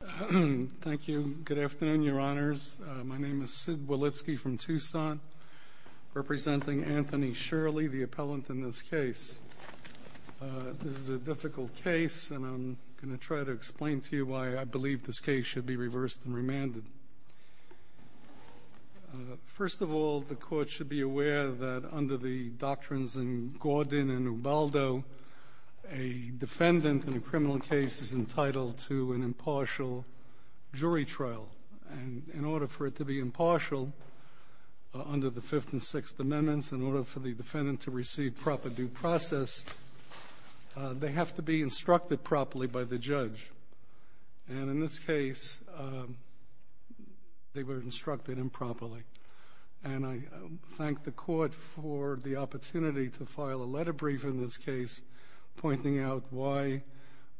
Good afternoon, your honors. My name is Sid Wolitski from Tucson, representing Anthony Shirley, the appellant in this case. This is a difficult case, and I'm going to try to explain to you why I believe this case should be reversed and remanded. First of all, the court should be aware that under the doctrines in Gordon and Ubaldo, a defendant in a criminal case is entitled to an impartial jury trial. And in order for it to be impartial, under the Fifth and Sixth Amendments, in order for the defendant to receive proper due process, they have to be instructed properly by the judge. And in this case, they were instructed improperly. And I thank the court for the opportunity to file a letter brief in this case, pointing out why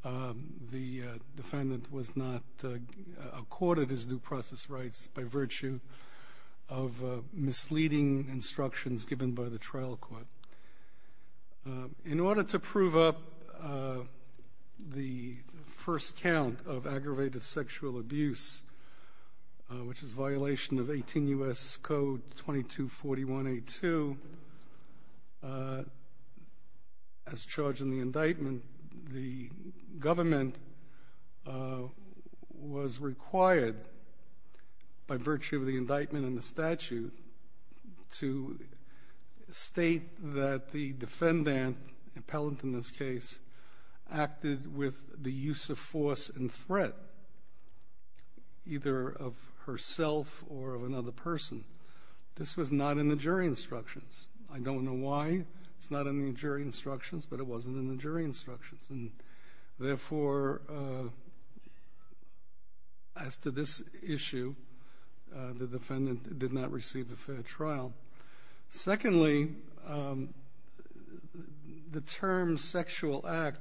the defendant was not accorded his due process rights by virtue of misleading instructions given by the trial court. In order to prove up the first count of aggravated sexual abuse, which is violation of 18 U.S. Code 2241A2, as charged in the indictment, the government was required, by virtue of the indictment and the statute, to state that the defendant, appellant in this case, acted with the use of force and threat, either of herself or of another person. This was not in the jury instructions. I don't know why it's not in the jury instructions, but it wasn't in the jury instructions. And, therefore, as to this issue, the defendant did not receive a fair trial. Secondly, the term sexual act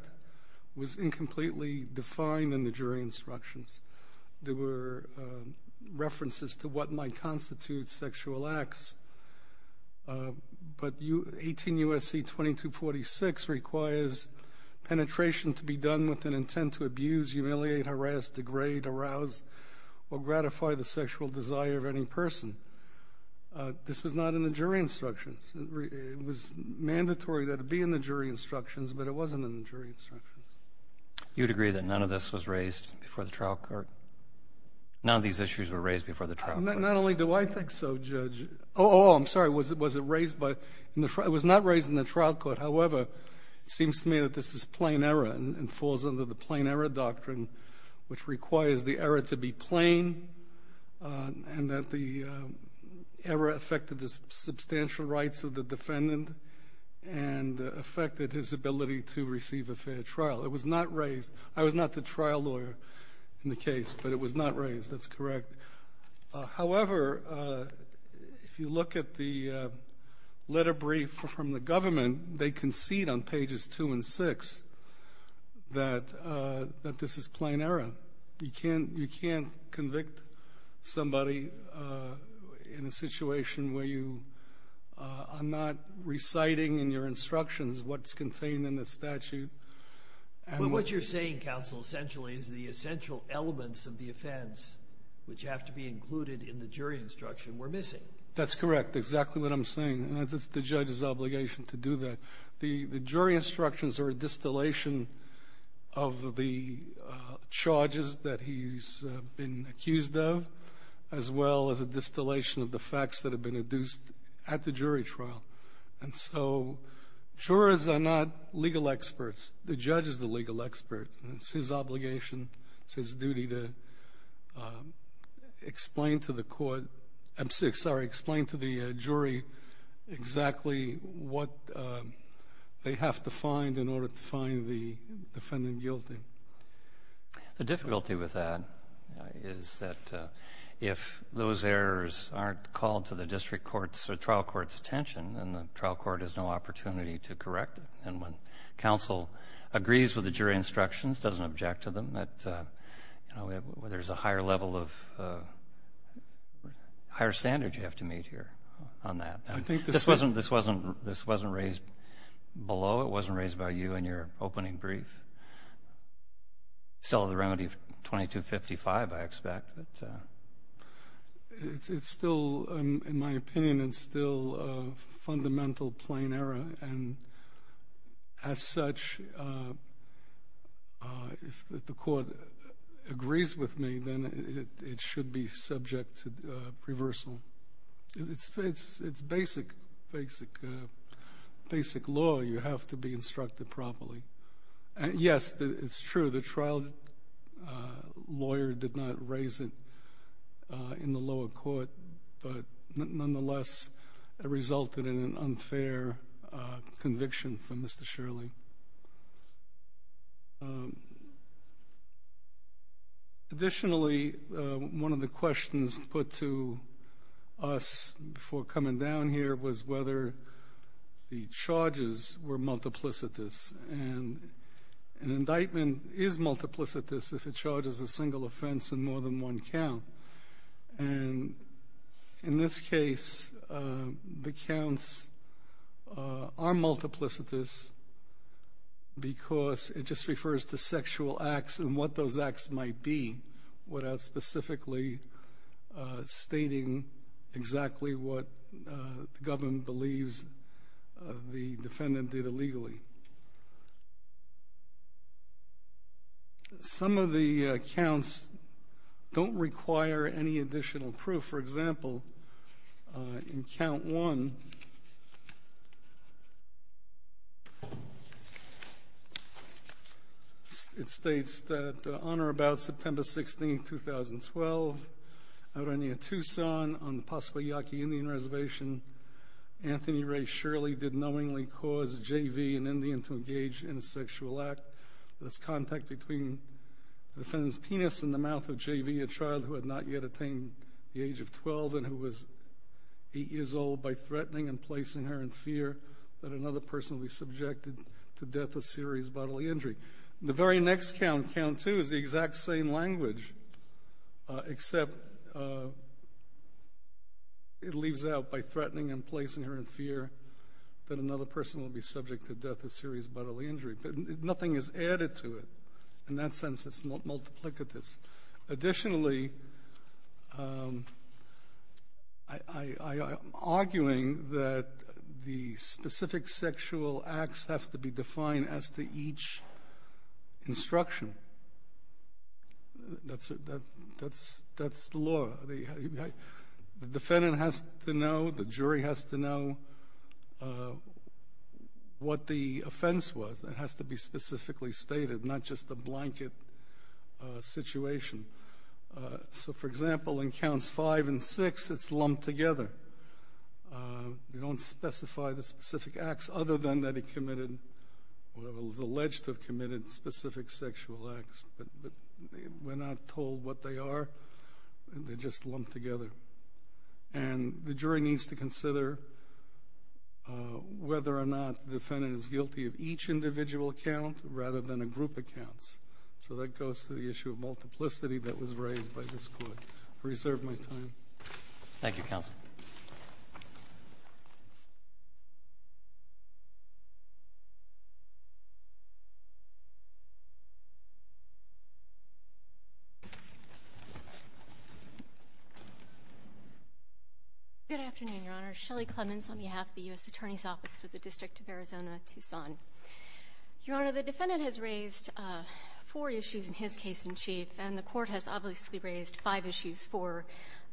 was incompletely defined in the jury instructions. There were references to what might constitute sexual acts. But 18 U.S.C. 2246 requires penetration to be done with an intent to abuse, humiliate, harass, degrade, arouse, or gratify the sexual desire of any person. This was not in the jury instructions. It was mandatory that it be in the jury instructions, but it wasn't in the jury instructions. You'd agree that none of this was raised before the trial court? None of these issues were raised before the trial court? Not only do I think so, Judge. Oh, I'm sorry. Was it raised by the trial? It was not raised in the trial court. However, it seems to me that this is plain error and falls under the plain error doctrine, which requires the error to be plain and that the error affected the substantial rights of the defendant and affected his ability to receive a fair trial. It was not raised. I was not the trial lawyer in the case, but it was not raised. That's correct. However, if you look at the letter brief from the government, they concede on pages 2 and 6 that this is plain error. You can't convict somebody in a situation where you are not reciting in your instructions what's contained in the statute. What you're saying, Counsel, essentially is the essential elements of the offense, which have to be included in the jury instruction, were missing. That's correct, exactly what I'm saying. It's the judge's obligation to do that. The jury instructions are a distillation of the charges that he's been accused of, as well as a distillation of the facts that have been induced at the jury trial. And so jurors are not legal experts. The judge is the legal expert, and it's his obligation. It's his duty to explain to the court — I'm sorry, explain to the jury exactly what they have to find in order to find the defendant guilty. The difficulty with that is that if those errors aren't called to the district court's or trial court's attention, then the trial court has no opportunity to correct it. And when counsel agrees with the jury instructions, doesn't object to them, there's a higher level of higher standard you have to meet here on that. This wasn't raised below. It wasn't raised by you in your opening brief. Still the remedy of 2255, I expect. It's still, in my opinion, it's still a fundamental plain error. And as such, if the court agrees with me, then it should be subject to reversal. It's basic law. You have to be instructed properly. Yes, it's true, the trial lawyer did not raise it in the lower court, but nonetheless it resulted in an unfair conviction for Mr. Shirley. Additionally, one of the questions put to us before coming down here was whether the charges were multiplicitous. And an indictment is multiplicitous if it charges a single offense and more than one count. And in this case, the counts are multiplicitous because it just refers to sexual acts and what those acts might be without specifically stating exactly what the government believes the defendant did illegally. Some of the counts don't require any additional proof. For example, in count one, it states that on or about September 16, 2012, out on near Tucson on the Pascua Yaqui Indian Reservation, Anthony Ray Shirley did knowingly cause J.V., an Indian, to engage in a sexual act. There's contact between the defendant's penis and the mouth of J.V., a child who had not yet attained the age of 12 and who was 8 years old, by threatening and placing her in fear that another person would be subjected to death or serious bodily injury. The very next count, count two, is the exact same language, except it leaves out by threatening and placing her in fear that another person will be subject to death or serious bodily injury. But nothing is added to it. In that sense, it's multiplicitous. Additionally, I am arguing that the specific sexual acts have to be defined as to each instruction. That's the law. The defendant has to know, the jury has to know what the offense was. It has to be specifically stated, not just a blanket situation. So, for example, in counts five and six, it's lumped together. You don't specify the specific acts other than that he committed, or was alleged to have committed specific sexual acts, but we're not told what they are. They're just lumped together. And the jury needs to consider whether or not the defendant is guilty of each individual count rather than a group of counts. So that goes to the issue of multiplicity that was raised by this court. I reserve my time. Thank you, Counsel. Good afternoon, Your Honor. Shelly Clemens on behalf of the U.S. Attorney's Office for the District of Arizona-Tucson. Your Honor, the defendant has raised four issues in his case in chief, and the Court has obviously raised five issues for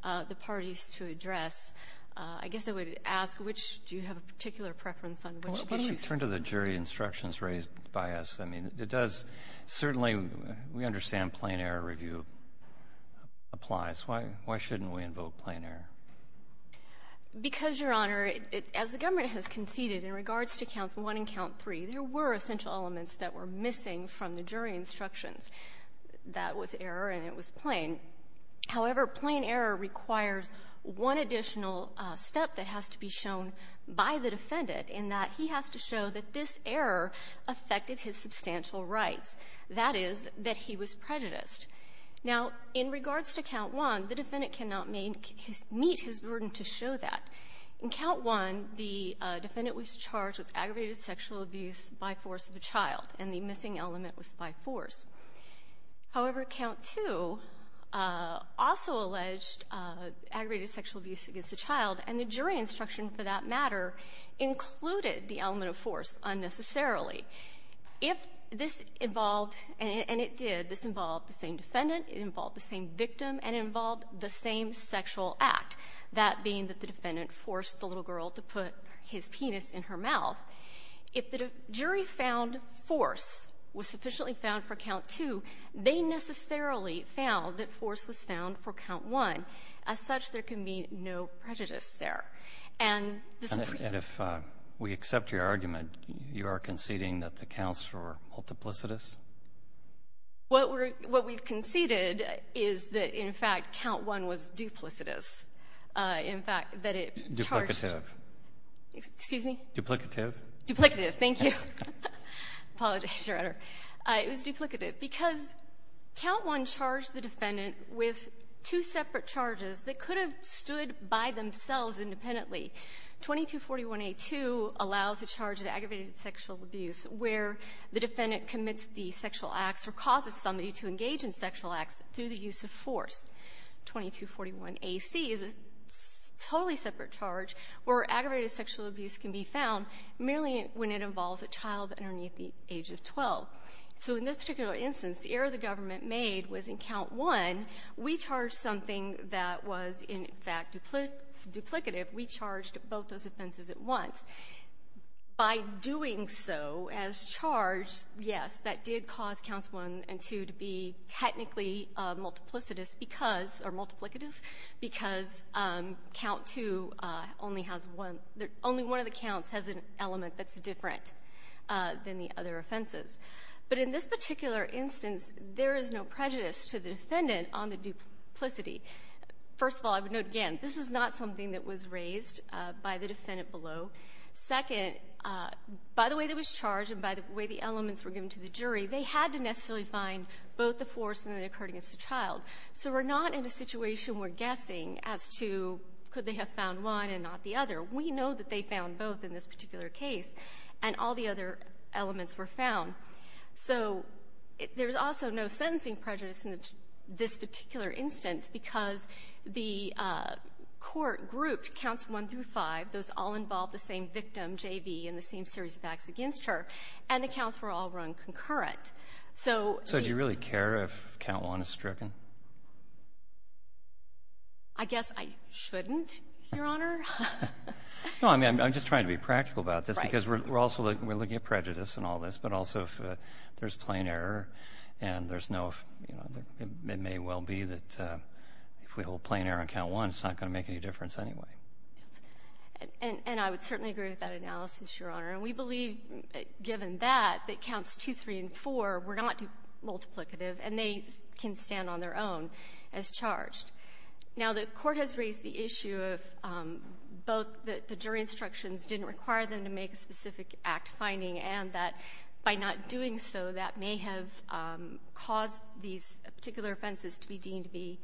the parties to address. I guess I would ask which do you have a particular preference on, which issues? Well, let me turn to the jury instructions raised by us. I mean, it does certainly we understand plain-error review applies. Why shouldn't we invoke plain-error? Because, Your Honor, as the government has conceded in regards to Counts 1 and Count 3, there were essential elements that were missing from the jury instructions. That was error, and it was plain. However, plain-error requires one additional step that has to be shown by the defendant, in that he has to show that this error affected his substantial rights. That is, that he was prejudiced. Now, in regards to Count 1, the defendant cannot make his — meet his burden to show that. In Count 1, the defendant was charged with aggravated sexual abuse by force of a child, and the missing element was by force. However, Count 2 also alleged aggravated sexual abuse against a child, and the jury instruction, for that matter, included the element of force unnecessarily. If this involved — and it did. This involved the same defendant. It involved the same victim. And it involved the same sexual act, that being that the defendant forced the little girl to put his penis in her mouth. If the jury found force was sufficiently found for Count 2, they necessarily found that force was found for Count 1. As such, there can be no prejudice there. And the Supreme Court — Are you saying that the counts were multiplicitous? What we're — what we've conceded is that, in fact, Count 1 was duplicitous. In fact, that it charged — Duplicative. Excuse me? Duplicative. Duplicative. Thank you. I apologize, Your Honor. It was duplicative, because Count 1 charged the defendant with two separate charges that could have stood by themselves independently. 2241a2 allows a charge of aggravated sexual abuse where the defendant commits the sexual acts or causes somebody to engage in sexual acts through the use of force. 2241ac is a totally separate charge where aggravated sexual abuse can be found merely when it involves a child underneath the age of 12. So in this particular instance, the error the government made was in Count 1, we charged something that was, in fact, duplicative. We charged both those offenses at once. By doing so as charge, yes, that did cause Counts 1 and 2 to be technically multiplicitous because — or multiplicative because Count 2 only has one — only one of the counts has an element that's different than the other offenses. But in this particular instance, there is no prejudice to the defendant on the duplicity. First of all, I would note again, this is not something that was raised by the defendant below. Second, by the way that was charged and by the way the elements were given to the jury, they had to necessarily find both the force and the occurred against the child. So we're not in a situation we're guessing as to could they have found one and not the other. We know that they did in this particular instance because the court grouped Counts 1 through 5, those all involved the same victim, J.V., in the same series of acts against her, and the counts were all run concurrent. So the — So do you really care if Count 1 is stricken? I guess I shouldn't, Your Honor. No, I mean, I'm just trying to be practical about this. Right. Because we're also looking — we're looking at prejudice in all this, but also if there's plain error and there's no — you know, it may well be that if we hold plain error on Count 1, it's not going to make any difference anyway. And I would certainly agree with that analysis, Your Honor. And we believe, given that, that Counts 2, 3, and 4 were not multiplicative and they can stand on their own as charged. Now, the Court has raised the issue of both the jury instructions didn't require them to make a specific act finding and that by not doing so, that may have caused these particular offenses to be deemed to be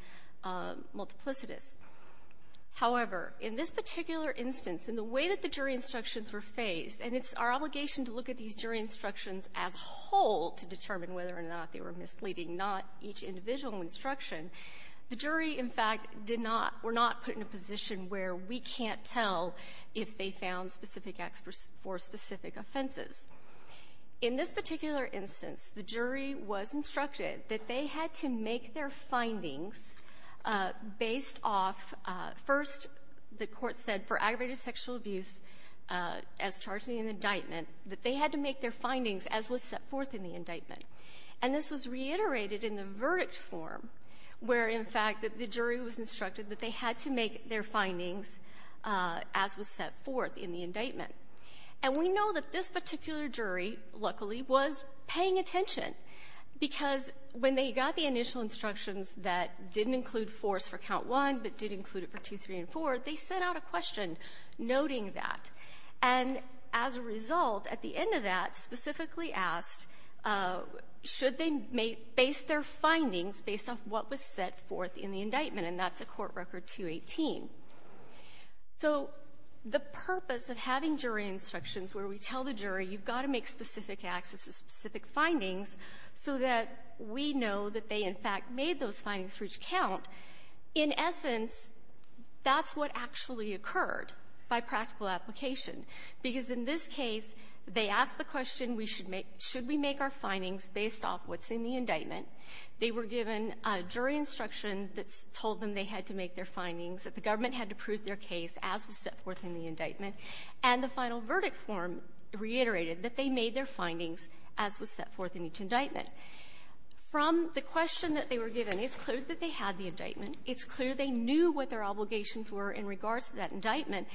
multiplicitous. However, in this particular instance, in the way that the jury instructions were faced, and it's our obligation to look at these jury instructions as a whole to determine whether or not they were misleading, not each individual instruction, the jury, in fact, did not — were not put in a position where we can't tell if they found specific acts for specific offenses. In this particular instance, the jury was instructed that they had to make their findings based off — first, the Court said for aggravated sexual abuse as charged in the indictment, that they had to make their findings as was set forth in the indictment. And this was reiterated in the verdict form, where, in fact, the jury was instructed that they had to make their findings as was set forth in the indictment. And we know that this particular jury, luckily, was paying attention, because when they got the initial instructions that didn't include fours for count one, but did include it for two, three, and four, they sent out a question noting that. And as a result, at the end of that, specifically asked, should they make — base their findings based off what was set forth in the indictment? And that's at Court Record 218. So the purpose of having jury instructions where we tell the jury, you've got to make specific acts as specific findings so that we know that they, in fact, made those findings for each count, in essence, that's what actually occurred by practical application. Because in this case, they asked the question, we should make — should we make our findings based off what's in the indictment? They were given a jury instruction that told them they had to make their findings, that the government had to prove their case as was set forth in the indictment, and the final verdict form reiterated that they made their findings as was set forth in each indictment. From the question that they were given, it's clear that they had the indictment. It's clear they knew what their obligations were in regards to that indictment.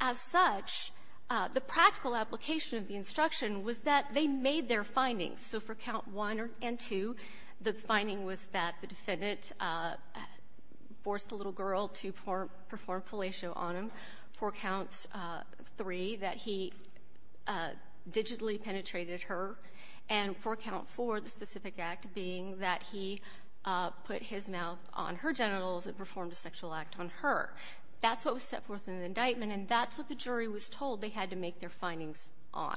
As such, the practical application of the instruction was that they made their findings. So for count 1 and 2, the finding was that the defendant forced the little girl to perform fellatio on him. For count 3, that he digitally penetrated her. And for count 4, the specific act being that he put his mouth on her genitals and performed a sexual act on her. That's what was set forth in the indictment, and that's what the jury was told they had to make their findings on.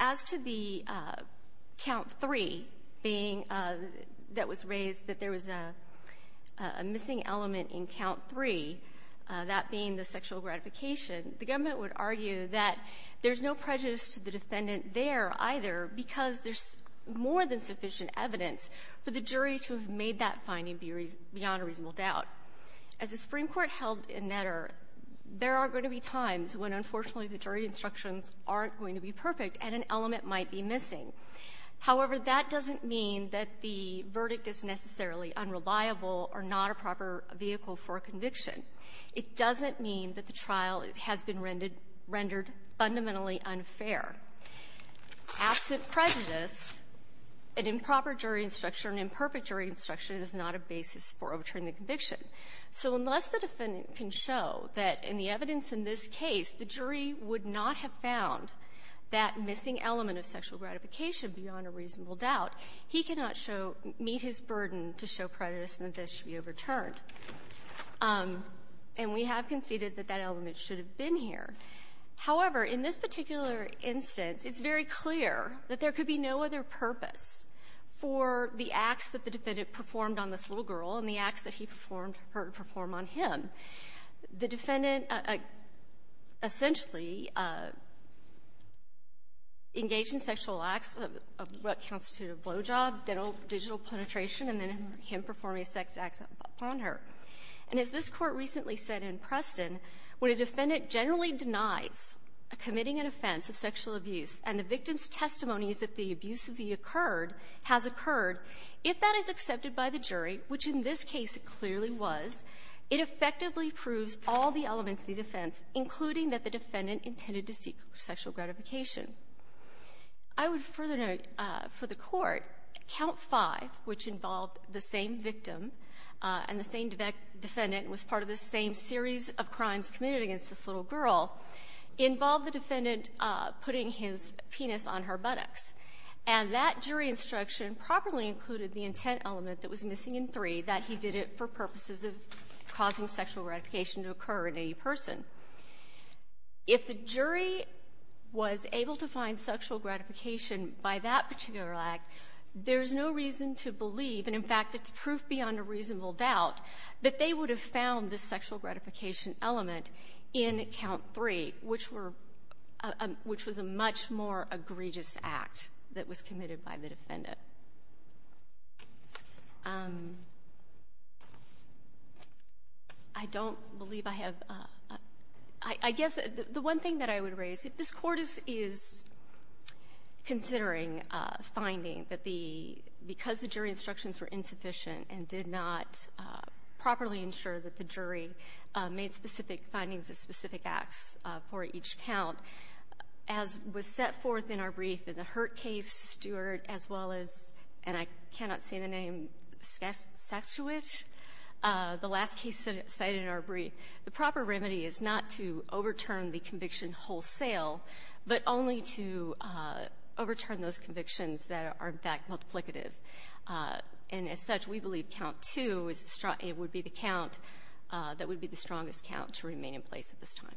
As to the count 3 being that was raised, that there was a missing element in count 3, that being the sexual gratification, the government would argue that there's no prejudice to the defendant there, either, because there's more than sufficient evidence for the jury to have made that finding beyond a reasonable doubt. As the Supreme Court held in Netter, there are going to be times when, unfortunately, the jury instructions aren't going to be perfect and an element might be missing. However, that doesn't mean that the verdict is necessarily unreliable or not a proper vehicle for conviction. It doesn't mean that the trial has been rendered fundamentally unfair. Absent prejudice, an improper jury instruction, an imperfect jury instruction is not a basis for overturning the conviction. So unless the defendant can show that in the evidence in this case, the jury would not have found that missing element of sexual gratification beyond a reasonable doubt, he cannot show meet his burden to show prejudice and that this should be overturned. And we have conceded that that element should have been here. However, in this particular instance, it's very clear that there could be no other purpose for the acts that the defendant performed on this little girl to essentially engage in sexual acts of what constitutes a blowjob, digital penetration, and then him performing a sex act upon her. And as this Court recently said in Preston, when a defendant generally denies committing an offense of sexual abuse and the victim's testimony is that the abuse has occurred, if that is accepted by the jury, which in this case it clearly was, it effectively proves all the elements of the defense, including that the defendant intended to seek sexual gratification. I would further note for the Court, Count 5, which involved the same victim and the same defendant was part of the same series of crimes committed against this little girl, involved the defendant putting his penis on her buttocks. And that jury instruction properly included the intent element that was missing in 3, that he did it for purposes of causing sexual gratification to occur in any person. If the jury was able to find sexual gratification by that particular act, there's no reason to believe, and in fact it's proof beyond a reasonable doubt, that they would have found the sexual gratification element in Count 3, which were — which was a much more egregious act that was committed by the defendant. I don't believe I have — I guess the one thing that I would raise, if this Court is considering a finding that the — because the jury instructions were insufficient and did not properly ensure that the jury made specific findings of specific acts for each count, as was set forth in our brief in the Hurt case, Stewart, as well as — and I cannot say the name — Saksiewicz, the last case cited in our brief. The proper remedy is not to overturn the conviction wholesale, but only to overturn those convictions that are, in fact, multiplicative. And as such, we believe Count 2 is the — it would be the count that would be the strongest count to remain in place at this time.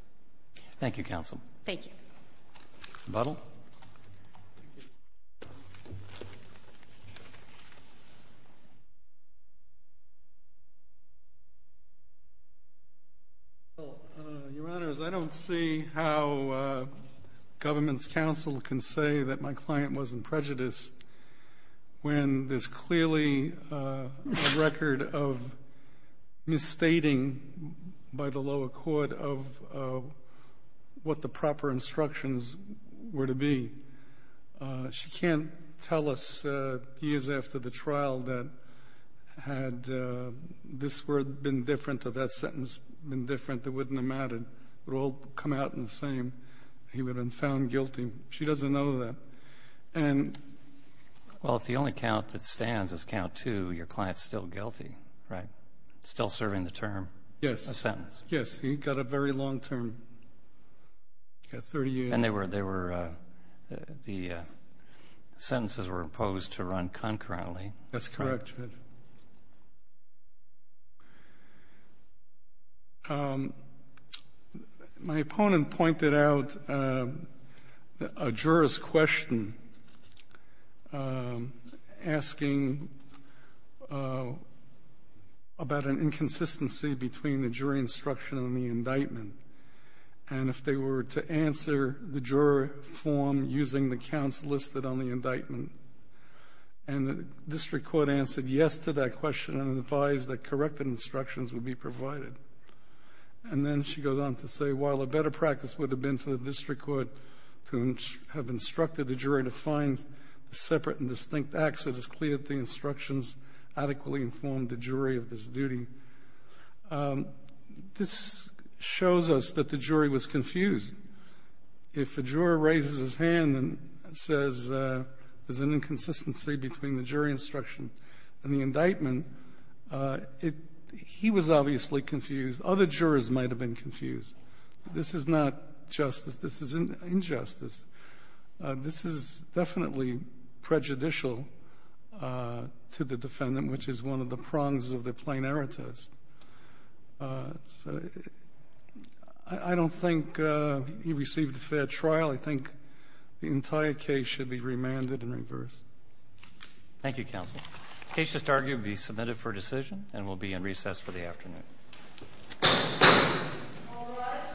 Thank you, counsel. Thank you. Budll. Your Honors, I don't see how government's counsel can say that my client wasn't of what the proper instructions were to be. She can't tell us years after the trial that had this word been different or that sentence been different, it wouldn't have mattered. It would all come out the same. He would have been found guilty. She doesn't know that. And — Well, if the only count that stands is Count 2, your client's still guilty, right? Still serving the term. Yes. A sentence. Yes. He got a very long term. He got 30 years. And they were — the sentences were imposed to run concurrently. That's correct, Judge. Thank you. My opponent pointed out a juror's question asking about an inconsistency between the jury instruction and the indictment and if they were to answer the juror form using the counts listed on the indictment. And the district court answered yes to that question and advised that corrected instructions would be provided. And then she goes on to say, while a better practice would have been for the district court to have instructed the jury to find separate and distinct acts, it is clear that the instructions adequately informed the jury of this duty. This shows us that the jury was confused. If a juror raises his hand and says there's an inconsistency between the jury instruction and the indictment, it — he was obviously confused. Other jurors might have been confused. This is not justice. This is injustice. This is definitely prejudicial to the defendant, which is one of the prongs of the plain error test. So I don't think he received a fair trial. I think the entire case should be remanded and reversed. Thank you, Counsel. The case just argued will be submitted for decision and will be in recess for the afternoon. All rise.